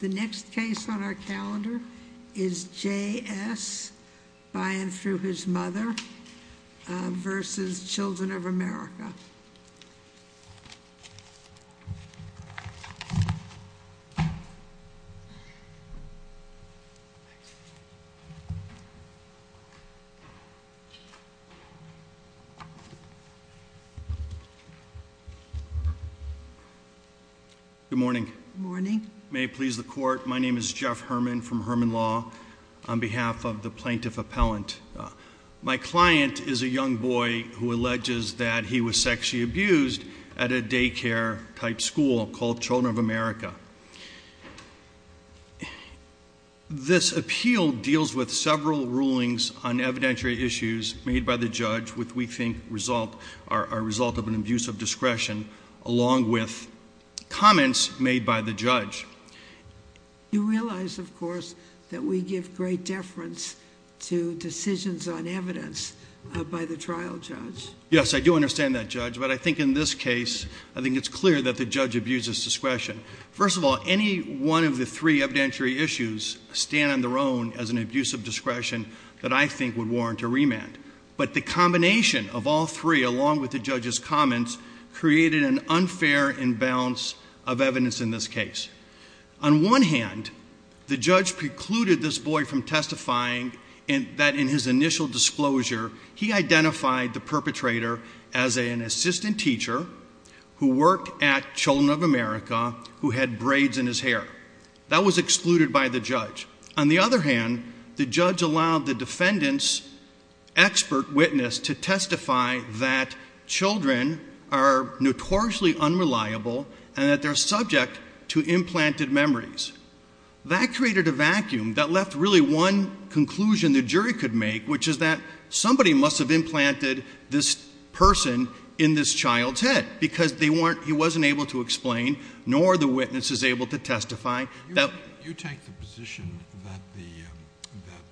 The next case on our calendar is J.S. by and through his mother versus Children of America. Good morning. Morning. May it please the court, my name is Jeff Herman from Herman Law on behalf of the plaintiff appellant. My client is a young boy who alleges that he was sexually abused at a daycare type school called Children of America. This appeal deals with several rulings on evidentiary issues made by the judge, which we think result are a result of an abuse of discretion, along with comments made by the judge. You realize, of course, that we give great deference to decisions on evidence by the trial judge. Yes, I do understand that, Judge. But I think in this case, I think it's clear that the judge abuses discretion. First of all, any one of the three evidentiary issues stand on their own as an abuse of discretion that I think would warrant a remand. But the combination of all three, along with the judge's comments, created an unfair imbalance of evidence in this case. On one hand, the judge precluded this boy from testifying and that in his initial disclosure, he identified the perpetrator as an assistant teacher who worked at Children of America, who had braids in his hair that was excluded by the judge. On the other hand, the judge allowed the defendant's expert witness to testify that children are notoriously unreliable and that they're subject to implanted memories. That created a vacuum that left really one conclusion the jury could make, which is that somebody must have implanted this person in this child's head because he wasn't able to explain, nor the witness is able to testify. You take the position that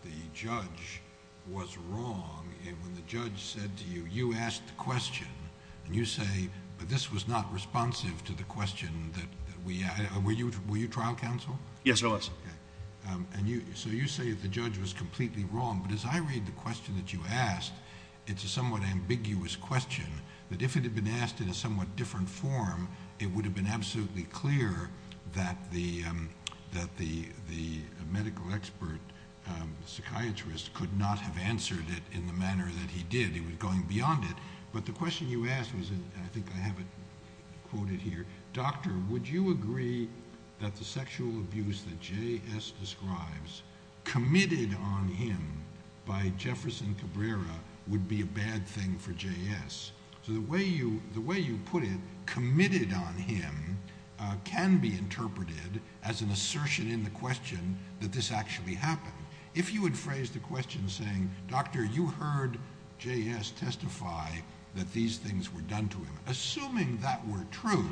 the judge was wrong and when the judge said to you, you asked the question and you say, but this was not responsive to the question that we were you. Were you trial counsel? Yes, I was. And so you say that the judge was completely wrong. But as I read the question that you asked, it's a somewhat ambiguous question that if it had been asked in a somewhat different form, it would have been absolutely clear that the that the the medical expert psychiatrist could not have answered it in the manner that he did. He was going beyond it. But the question you asked was, and I think I have it quoted here, Doctor, would you agree that the sexual abuse that J.S. describes committed on him by Jefferson Cabrera would be a bad thing for J.S.? So the way you the way you put it, committed on him can be interpreted as an assertion in the question that this actually happened. If you had phrased the question saying, Doctor, you heard J.S. testify that these things were done to him, assuming that were true.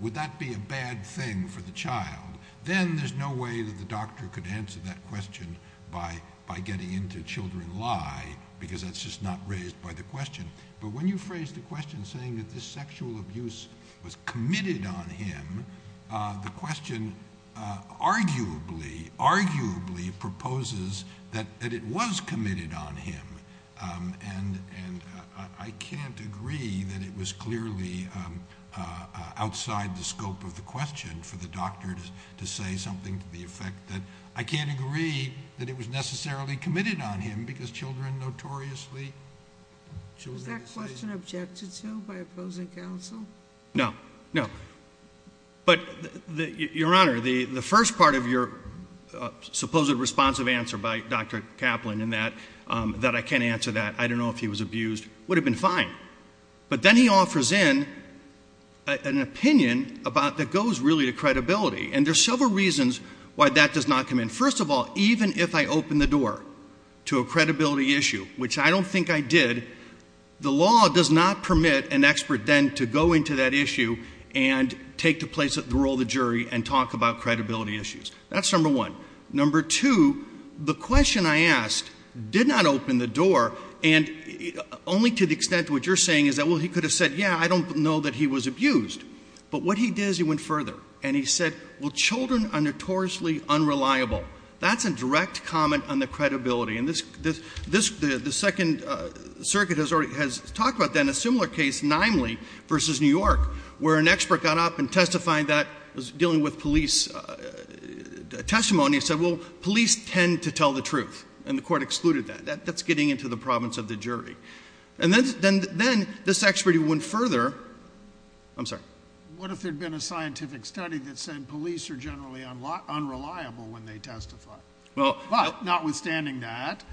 Would that be a bad thing for the child? Then there's no way that the doctor could answer that question by by getting into children lie, because that's just not raised by the question. But when you phrase the question saying that this sexual abuse was committed on him, the question arguably, arguably proposes that it was committed on him. And and I can't agree that it was clearly outside the scope of the question for the doctor to say something to the effect that I can't agree that it was necessarily committed on him because children notoriously. So is that question objected to by opposing counsel? No, no. But your honor, the first part of your supposed responsive answer by Dr. Kaplan in that that I can't answer that. I don't know if he was abused, would have been fine. But then he offers in an opinion about that goes really to credibility. And there's several reasons why that does not come in. First of all, even if I open the door to a credibility issue, which I don't think I did, the law does not permit an expert then to go into that issue and take the place of the role of the jury and talk about credibility issues. That's number one. Number two, the question I asked did not open the door. And only to the extent what you're saying is that, well, he could have said, yeah, I don't know that he was abused. But what he did is he went further and he said, well, children are notoriously unreliable. That's a direct comment on the credibility. And this this the second circuit has already has talked about then a similar case, namely versus New York, where an expert got up and testifying that was dealing with police testimony and said, well, police tend to tell the truth. And the court excluded that that's getting into the province of the jury. And then then then this actually went further. I'm sorry. What if there'd been a scientific study that said police are generally unreliable when they testify? Well, notwithstanding that,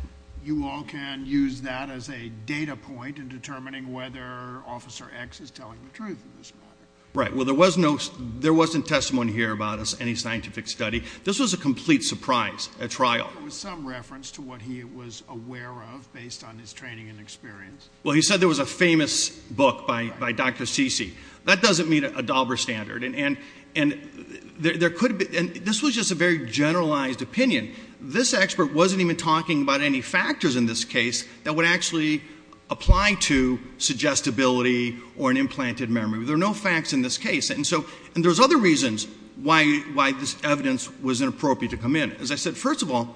you all can use that as a data point in determining whether Officer X is telling the truth in this matter, right? Well, there was no there wasn't testimony here about any scientific study. This was a complete surprise. A trial with some reference to what he was aware of based on his training and experience. Well, he said there was a famous book by by Dr. Sisi. That doesn't mean a Dauber standard. And and and there could be and this was just a very generalized opinion. This expert wasn't even talking about any factors in this case that would actually apply to suggestibility or an implanted memory. There are no facts in this case. And so and there's other reasons why why this evidence was inappropriate to come in. As I said, first of all,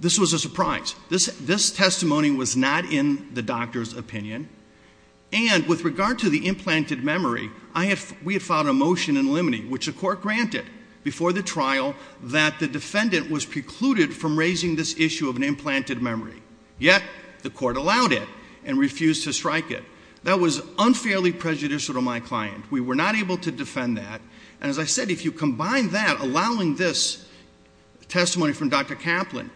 this was a surprise. This this testimony was not in the doctor's opinion. And with regard to the implanted memory, I have we had filed a motion in limine, which the court granted before the trial that the defendant was precluded from raising this issue of an implanted memory. Yet the court allowed it and refused to strike it. That was unfairly prejudicial to my client. We were not able to defend that. And as I said, if you combine that, allowing this testimony from Dr. Kaplan,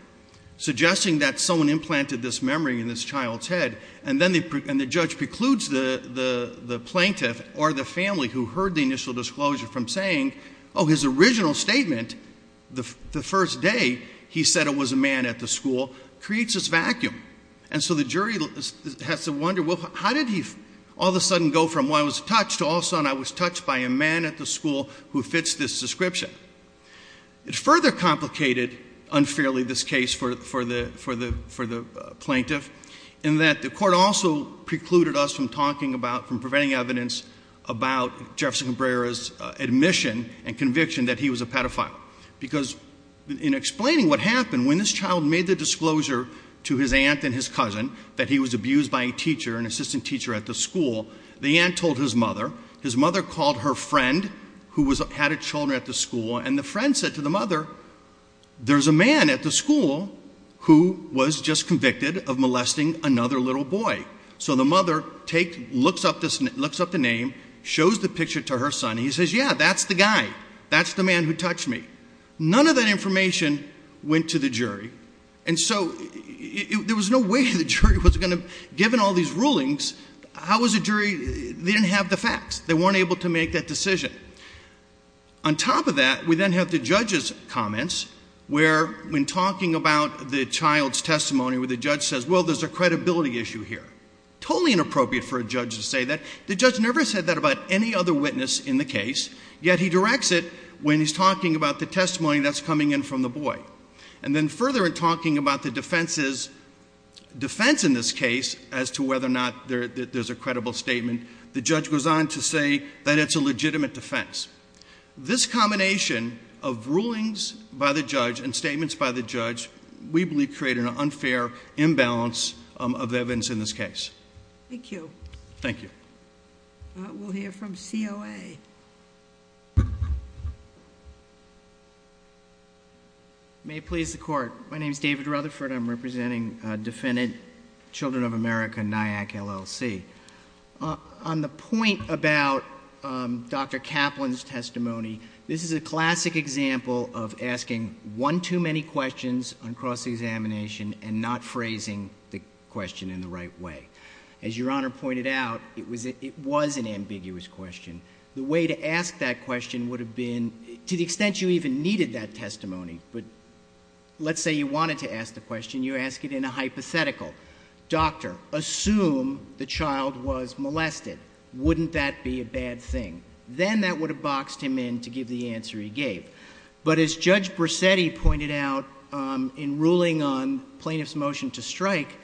suggesting that someone implanted this memory in this child's head and then and the judge precludes the the the plaintiff or the family who heard the initial disclosure from saying, oh, his original statement. The first day he said it was a man at the school creates this vacuum. And so the jury has to wonder, well, how did he all of a sudden go from? Well, I was touched also. And I was touched by a man at the school who fits this description. It further complicated unfairly this case for for the for the for the plaintiff in that the court also precluded us from talking about from preventing evidence about Jefferson Cabrera's admission and conviction that he was a pedophile, because in explaining what happened when this child made the disclosure to his aunt and his cousin that he was abused by a teacher, an assistant teacher at the school, the aunt told his mother, his mother called her friend who was had a children at the school. And the friend said to the mother, there's a man at the school who was just convicted of molesting another little boy. So the mother take looks up, looks up the name, shows the picture to her son. He says, yeah, that's the guy. That's the man who touched me. None of that information went to the jury. And so there was no way the jury was going to given all these rulings. How was a jury? They didn't have the facts. They weren't able to make that decision. On top of that, we then have the judge's comments where when talking about the child's testimony with the judge says, well, there's a credibility issue here, totally inappropriate for a judge to say that. The judge never said that about any other witness in the case. Yet he directs it when he's talking about the testimony that's coming in from the boy. And then further in talking about the defense's defense in this case as to whether or not there's a credible statement, the judge goes on to say that it's a legitimate defense. This combination of rulings by the judge and statements by the judge, we believe, create an unfair imbalance of evidence in this case. Thank you. Thank you. We'll hear from COA. May it please the court. My name is David Rutherford. I'm representing a defendant, Children of America, NIAC, LLC. On the point about Dr. Kaplan's testimony. This is a classic example of asking one too many questions on cross-examination and not phrasing the question in the right way. As your honor pointed out, it was it was an ambiguous question. The way to ask that question would have been to the extent you even needed that testimony. But let's say you wanted to ask the question. You ask it in a hypothetical. Doctor, assume the child was molested. Wouldn't that be a bad thing? Then that would have boxed him in to give the answer he gave. But as Judge Brissetti pointed out in ruling on plaintiff's motion to strike,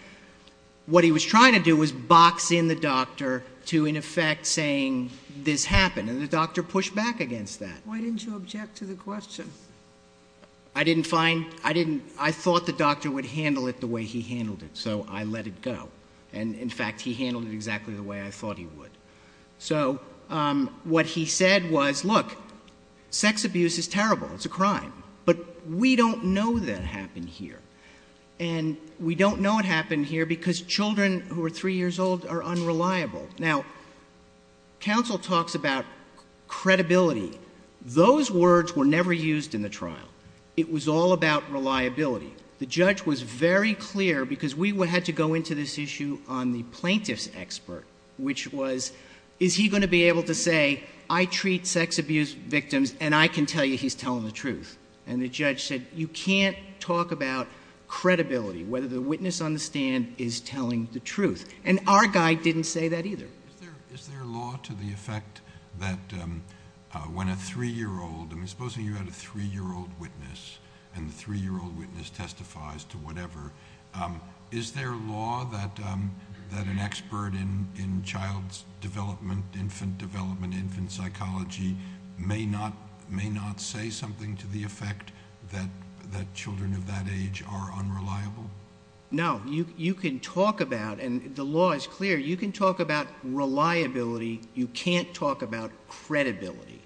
what he was trying to do was box in the doctor to, in effect, saying this happened and the doctor pushed back against that. Why didn't you object to the question? I didn't find I didn't. I thought the doctor would handle it the way he handled it. So I let it go. And in fact, he handled it exactly the way I thought he would. So what he said was, look, sex abuse is terrible, it's a crime, but we don't know that happened here. And we don't know what happened here because children who are three years old are unreliable now. Counsel talks about credibility. Those words were never used in the trial. It was all about reliability. The judge was very clear because we had to go into this issue on the plaintiff's expert, which was, is he going to be able to say, I treat sex abuse victims and I can tell you he's telling the truth? And the judge said, you can't talk about credibility, whether the witness on the stand is telling the truth. And our guy didn't say that either. Is there a law to the effect that when a three year old and supposing you had a three year old witness and the three year old witness testifies to whatever, is there a law that that an expert in in child's development, infant development, infant psychology may not may not say something to the effect that that children of that age are unreliable? No, you can talk about and the law is clear. You can talk about reliability. You can't talk about credibility.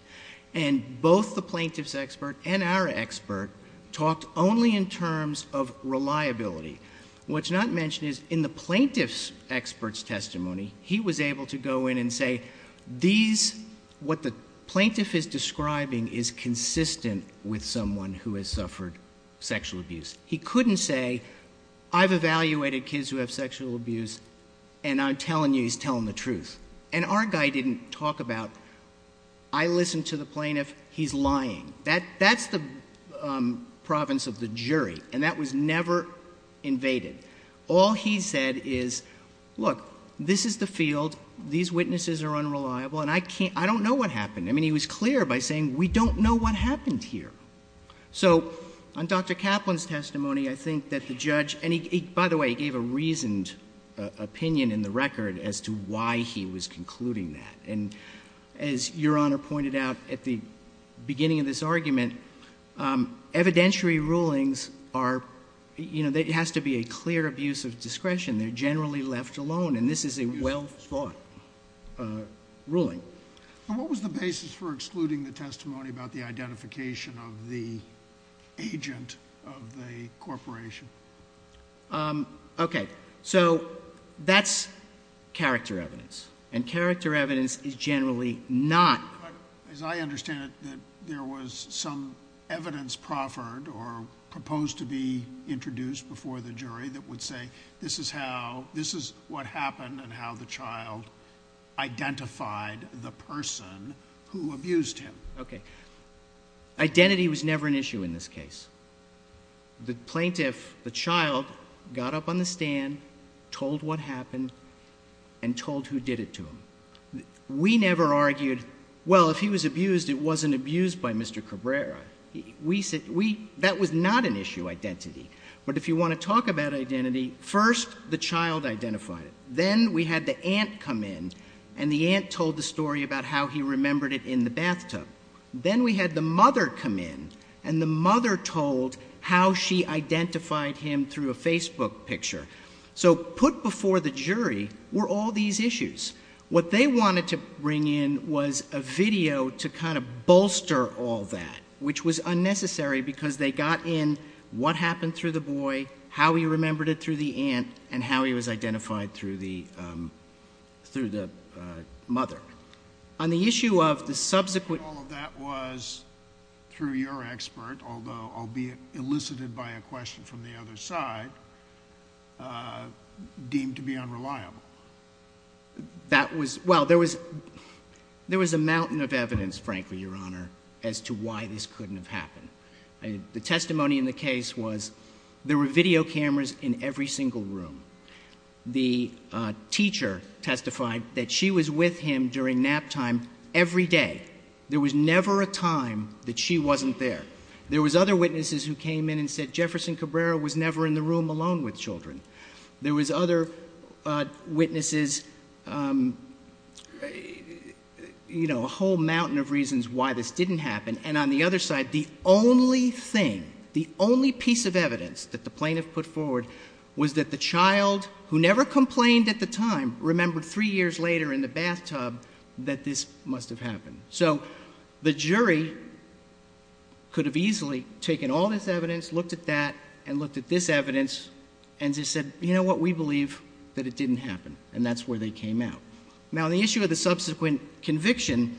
And both the plaintiff's expert and our expert talked only in terms of reliability. What's not mentioned is in the plaintiff's expert's testimony, he was able to go in and say these what the plaintiff is describing is consistent with someone who has suffered sexual abuse. He couldn't say I've evaluated kids who have sexual abuse and I'm telling you he's telling the truth. And our guy didn't talk about. I listened to the plaintiff. He's lying that that's the province of the jury. And that was never invaded. All he said is, look, this is the field. These witnesses are unreliable. And I can't I don't know what happened. I mean, he was clear by saying we don't know what happened here. So on Dr. Kaplan's testimony, I think that the judge and he, by the way, gave a reasoned opinion in the record as to why he was concluding that. And as your honor pointed out at the beginning of this argument, evidentiary rulings are, you know, that it has to be a clear abuse of discretion. They're generally left alone. And this is a well thought ruling. But what was the basis for excluding the testimony about the identification of the agent of the corporation? OK, so that's character evidence and character evidence is generally not, as I understand it, that there was some evidence proffered or proposed to be introduced before the jury that would say this is how this is what happened Identity was never an issue in this case. The plaintiff, the child got up on the stand, told what happened and told who did it to him. We never argued, well, if he was abused, it wasn't abused by Mr. Cabrera. We said we that was not an issue identity. But if you want to talk about identity first, the child identified it. Then we had the aunt come in and the aunt told the story about how he remembered it in the bathtub. Then we had the mother come in and the mother told how she identified him through a Facebook picture. So put before the jury were all these issues. What they wanted to bring in was a video to kind of bolster all that, which was unnecessary because they got in what happened through the boy, how he remembered it through the aunt and how he was identified through the through the mother. On the issue of the subsequent, all of that was through your expert, although I'll be elicited by a question from the other side deemed to be unreliable. That was well, there was there was a mountain of evidence, frankly, Your Honor, as to why this couldn't have happened. The testimony in the case was there were video cameras in every single room. The teacher testified that she was with him during nap time every day. There was never a time that she wasn't there. There was other witnesses who came in and said Jefferson Cabrera was never in the room alone with children. There was other witnesses. You know, a whole mountain of reasons why this didn't happen. And on the other side, the only thing, the only piece of evidence that the plaintiff put forward was that the child who never complained at the time remembered three years later in the bathtub that this must have happened. So the jury. Could have easily taken all this evidence, looked at that and looked at this evidence and just said, you know what, we believe that it didn't happen. And that's where they came out. Now, the issue of the subsequent conviction,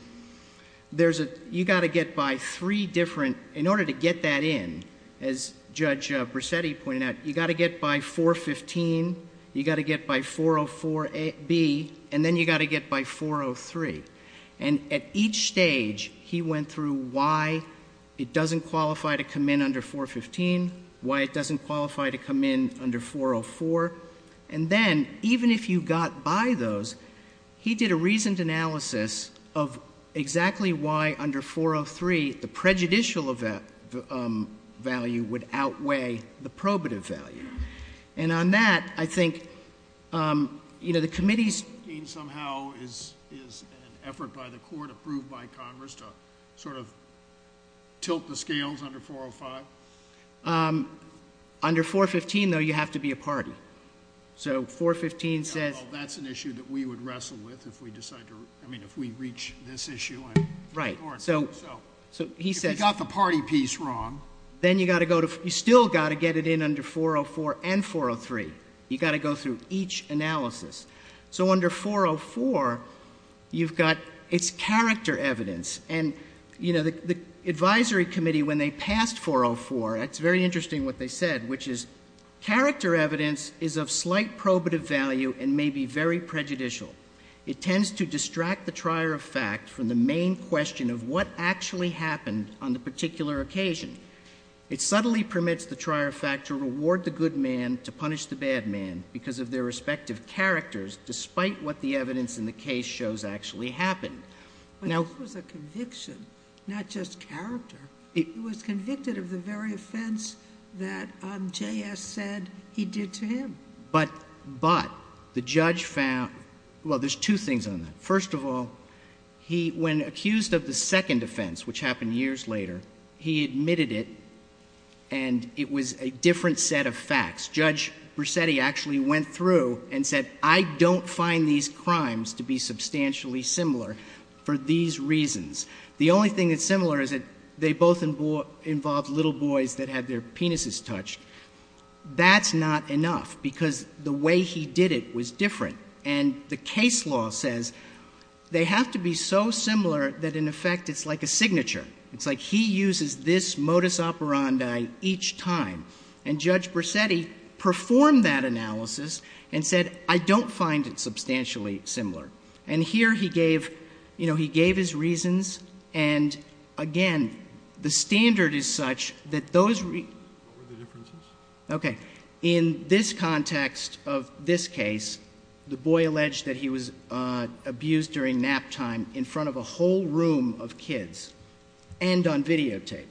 there's a you got to get by three different in order to get that in. As Judge Brissetti pointed out, you got to get by 415. You got to get by 404 B and then you got to get by 403. And at each stage, he went through why it doesn't qualify to come in under 415, why it doesn't qualify to come in under 404. And then even if you got by those, he did a reasoned analysis of exactly why under 403 the prejudicial value would outweigh the probative value. And on that, I think, you know, the committee's somehow is is an effort by the court approved by Congress to sort of tilt the scales under 405. Under 415, though, you have to be a party. So 415 says that's an issue that we would wrestle with if we decide to. I mean, if we reach this issue. Right. So so he said he got the party piece wrong. Then you got to go to you still got to get it in under 404 and 403. You got to go through each analysis. So under 404, you've got its character evidence. And, you know, the advisory committee, when they passed 404, it's very interesting what they said, which is character evidence is of slight probative value and may be very prejudicial. It tends to distract the trier of fact from the main question of what actually happened on the particular occasion. It subtly permits the trier of fact to reward the good man, to punish the bad man because of their respective characters, despite what the evidence in the case shows actually happened. Now, it was a conviction, not just character. It was convicted of the very offense that J.S. said he did to him. But but the judge found, well, there's two things on that. First of all, he when accused of the second offense, which happened years later, he admitted it and it was a different set of facts. Judge Brissetti actually went through and said, I don't find these crimes to be substantially similar for these reasons. The only thing that's similar is that they both involved little boys that had their penises touched. That's not enough because the way he did it was different. And the case law says they have to be so similar that, in effect, it's like a signature. It's like he uses this modus operandi each time. And Judge Brissetti performed that analysis and said, I don't find it substantially similar. And here he gave you know, he gave his reasons. And again, the standard is such that those. What were the differences? OK. In this context of this case, the boy alleged that he was abused during nap time in front of a whole room of kids and on videotape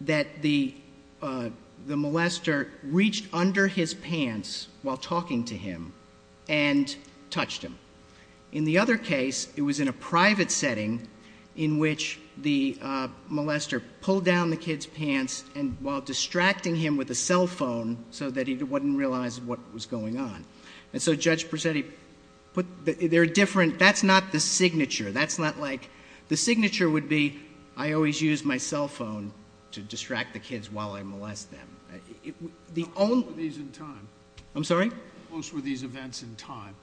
that the the molester reached under his pants while talking to him and touched him. In the other case, it was in a private setting in which the molester pulled down the kid's pants and while distracting him with a cell phone so that he wouldn't realize what was going on. And so Judge Brissetti put their different. That's not the signature. That's not like the signature would be. I always use my cell phone to distract the kids while I molest them. The only reason time I'm sorry. Most were these events in time.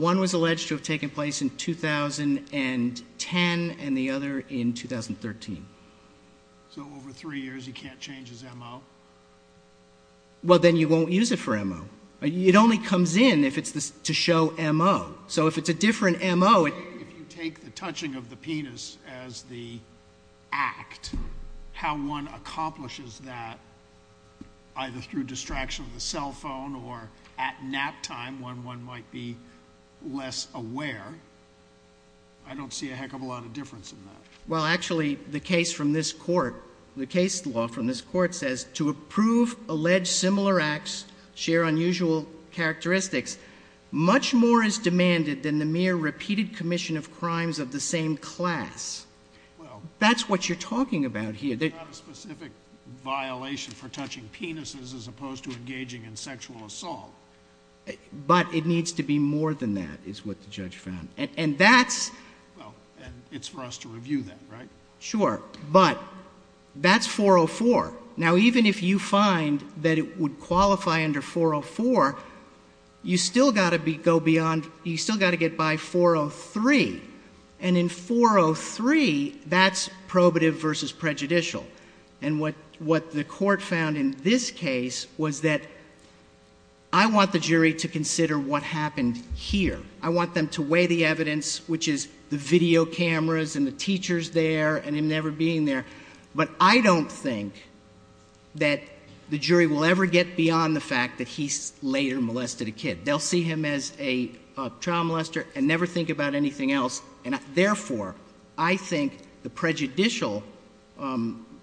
One was alleged to have taken place in 2010 and the other in 2013. So over three years, he can't change his ammo. Well, then you won't use it for ammo. It only comes in if it's to show ammo. So if it's a different ammo, if you take the touching of the penis as the act, how one accomplishes that. Either through distraction of the cell phone or at nap time when one might be less aware. I don't see a heck of a lot of difference in that. Well, actually, the case from this court, the case law from this court says to approve alleged similar acts share unusual characteristics. Much more is demanded than the mere repeated commission of crimes of the same class. Well, that's what you're talking about here. That specific violation for touching penises as opposed to engaging in sexual assault. But it needs to be more than that is what the judge found. And that's. Well, it's for us to review that, right? Sure. But that's 404. Now, even if you find that it would qualify under 404, you still got to be go beyond. You still got to get by 403. And in 403, that's probative versus prejudicial. And what what the court found in this case was that. I want the jury to consider what happened here. I want them to weigh the evidence, which is the video cameras and the teachers there and him never being there. But I don't think that the jury will ever get beyond the fact that he's later molested a kid. They'll see him as a child molester and never think about anything else. And therefore, I think the prejudicial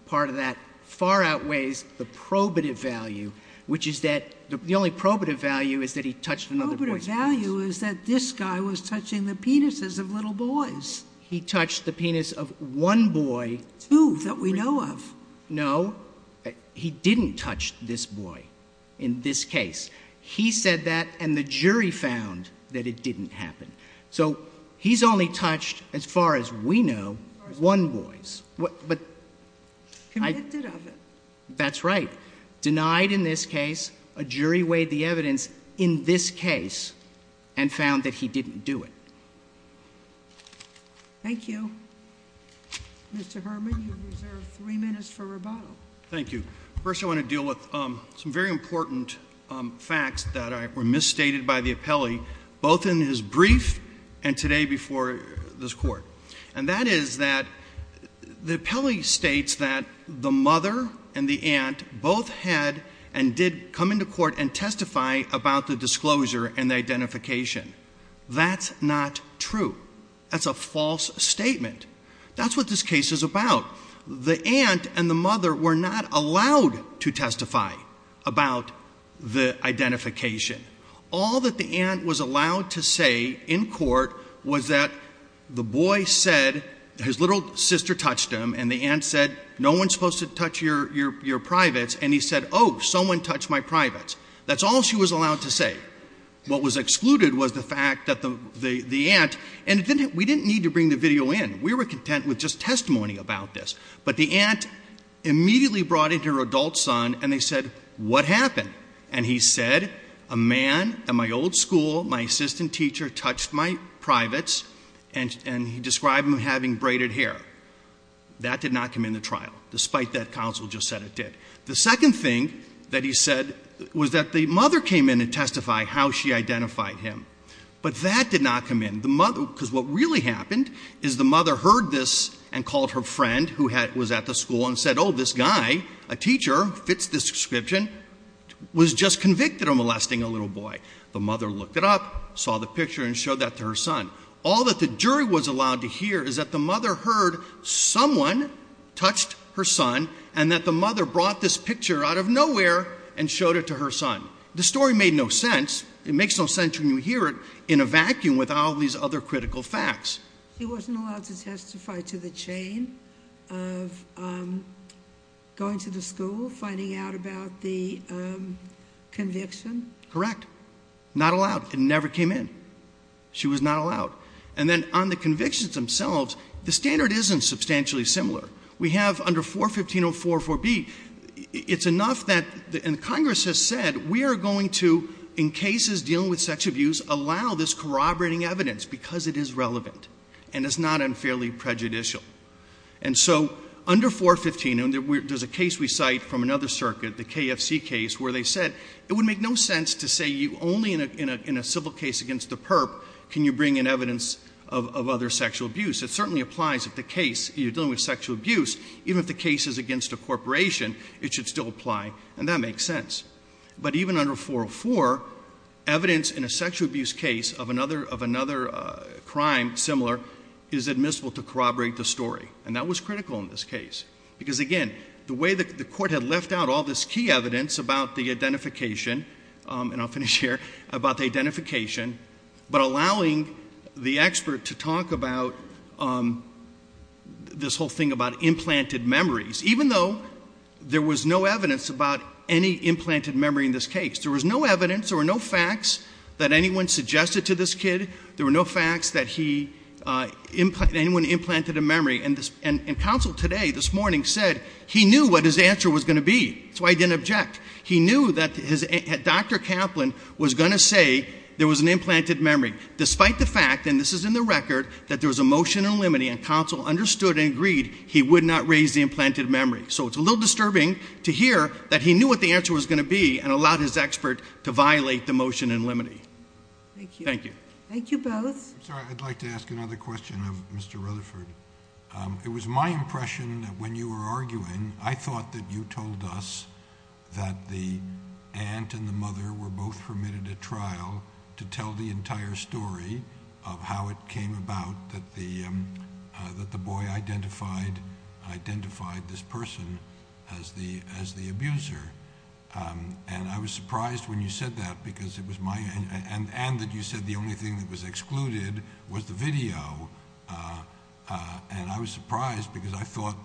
part of that far outweighs the probative value, which is that the only probative value is that he touched another. But a value is that this guy was touching the penises of little boys. He touched the penis of one boy. Two that we know of. No, he didn't touch this boy. In this case, he said that. And the jury found that it didn't happen. So he's only touched, as far as we know, one boys. But I did. That's right. Denied in this case. A jury weighed the evidence in this case and found that he didn't do it. Thank you. Mr. Herman, you reserve three minutes for rebuttal. Thank you. First, I want to deal with some very important facts that were misstated by the appellee, both in his brief and today before this court, and that is that the appellee states that the mother and the aunt both had and did come into court and testify about the disclosure and identification. That's not true. That's a false statement. That's what this case is about. The aunt and the mother were not allowed to testify about the identification. All that the aunt was allowed to say in court was that the boy said his little sister touched him and the aunt said, no one's supposed to touch your your your privates. And he said, oh, someone touched my privates. That's all she was allowed to say. What was excluded was the fact that the the the aunt and we didn't need to bring the video in. We were content with just testimony about this. But the aunt immediately brought in her adult son and they said, what happened? And he said, a man at my old school, my assistant teacher touched my privates and and he described him having braided hair. That did not come in the trial, despite that counsel just said it did. The second thing that he said was that the mother came in and testify how she identified him, but that did not come in. The mother, because what really happened is the mother heard this and called her friend who was at the school and said, oh, this guy, a teacher fits this description, was just convicted of molesting a little boy. The mother looked it up, saw the picture and showed that to her son. All that the jury was allowed to hear is that the mother heard someone touched her son and that the mother brought this picture out of nowhere and showed it to her son. The story made no sense. It makes no sense when you hear it in a vacuum with all these other critical facts. He wasn't allowed to testify to the chain of going to the school, finding out about the conviction. Correct. Not allowed. It never came in. She was not allowed. And then on the convictions themselves, the standard isn't substantially similar. We have under 415-04-4B, it's enough that the Congress has said we are going to, in cases dealing with sex abuse, allow this corroborating evidence because it is relevant and it's not unfairly prejudicial. And so under 415, there's a case we cite from another circuit, the KFC case, where they said it would make no sense to say you only in a civil case against the perp, can you bring in evidence of other sexual abuse? It certainly applies if the case you're dealing with sexual abuse, even if the case is against a corporation, it should still apply. And that makes sense. But even under 404, evidence in a sexual abuse case of another of another crime similar is admissible to corroborate the story. And that was critical in this case, because, again, the way that the court had left out all this key evidence about the identification and I'll finish here, about the identification, but allowing the expert to talk about this whole thing about implanted memories, even though there was no evidence about any implanted memory in this case, there was no evidence or no facts that anyone suggested to this kid. There were no facts that he, anyone implanted a memory. And counsel today, this morning, said he knew what his answer was going to be. That's why he didn't object. He knew that Dr. Kaplan was going to say there was an implanted memory, despite the fact, and this is in the record, that there was a motion in limine and counsel understood and agreed he would not raise the implanted memory. So it's a little disturbing to hear that he knew what the answer was going to be and allowed his expert to violate the motion in limine. Thank you. Thank you. Thank you both. So I'd like to ask another question of Mr. Rutherford. It was my impression that when you were arguing, I thought that you told us that the aunt and the mother were both permitted a trial to tell the entire story of how it came about, that the that the boy identified, identified this person as the as the abuser. And I was surprised when you said that, because it was my and that you said the only thing that was excluded was the video. And I was surprised because I thought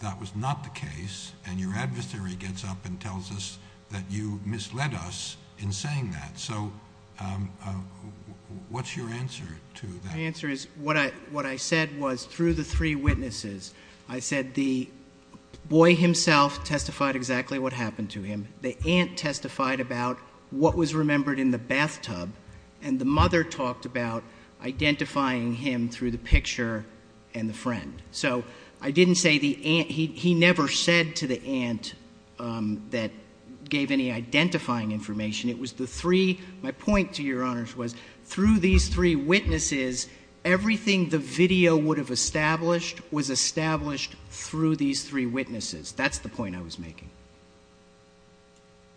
that was not the case. And your adversary gets up and tells us that you misled us in saying that. So what's your answer to that? My answer is what I what I said was through the three witnesses, I said the boy himself testified exactly what happened to him. The aunt testified about what was remembered in the bathtub. And the mother talked about identifying him through the picture and the friend. So I didn't say the aunt. He never said to the aunt that gave any identifying information. It was the three. My point to your honors was through these three witnesses, everything the video would have established was established through these three witnesses. That's the point I was making.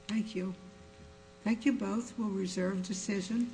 Thank you. Thank you both. We'll reserve decision.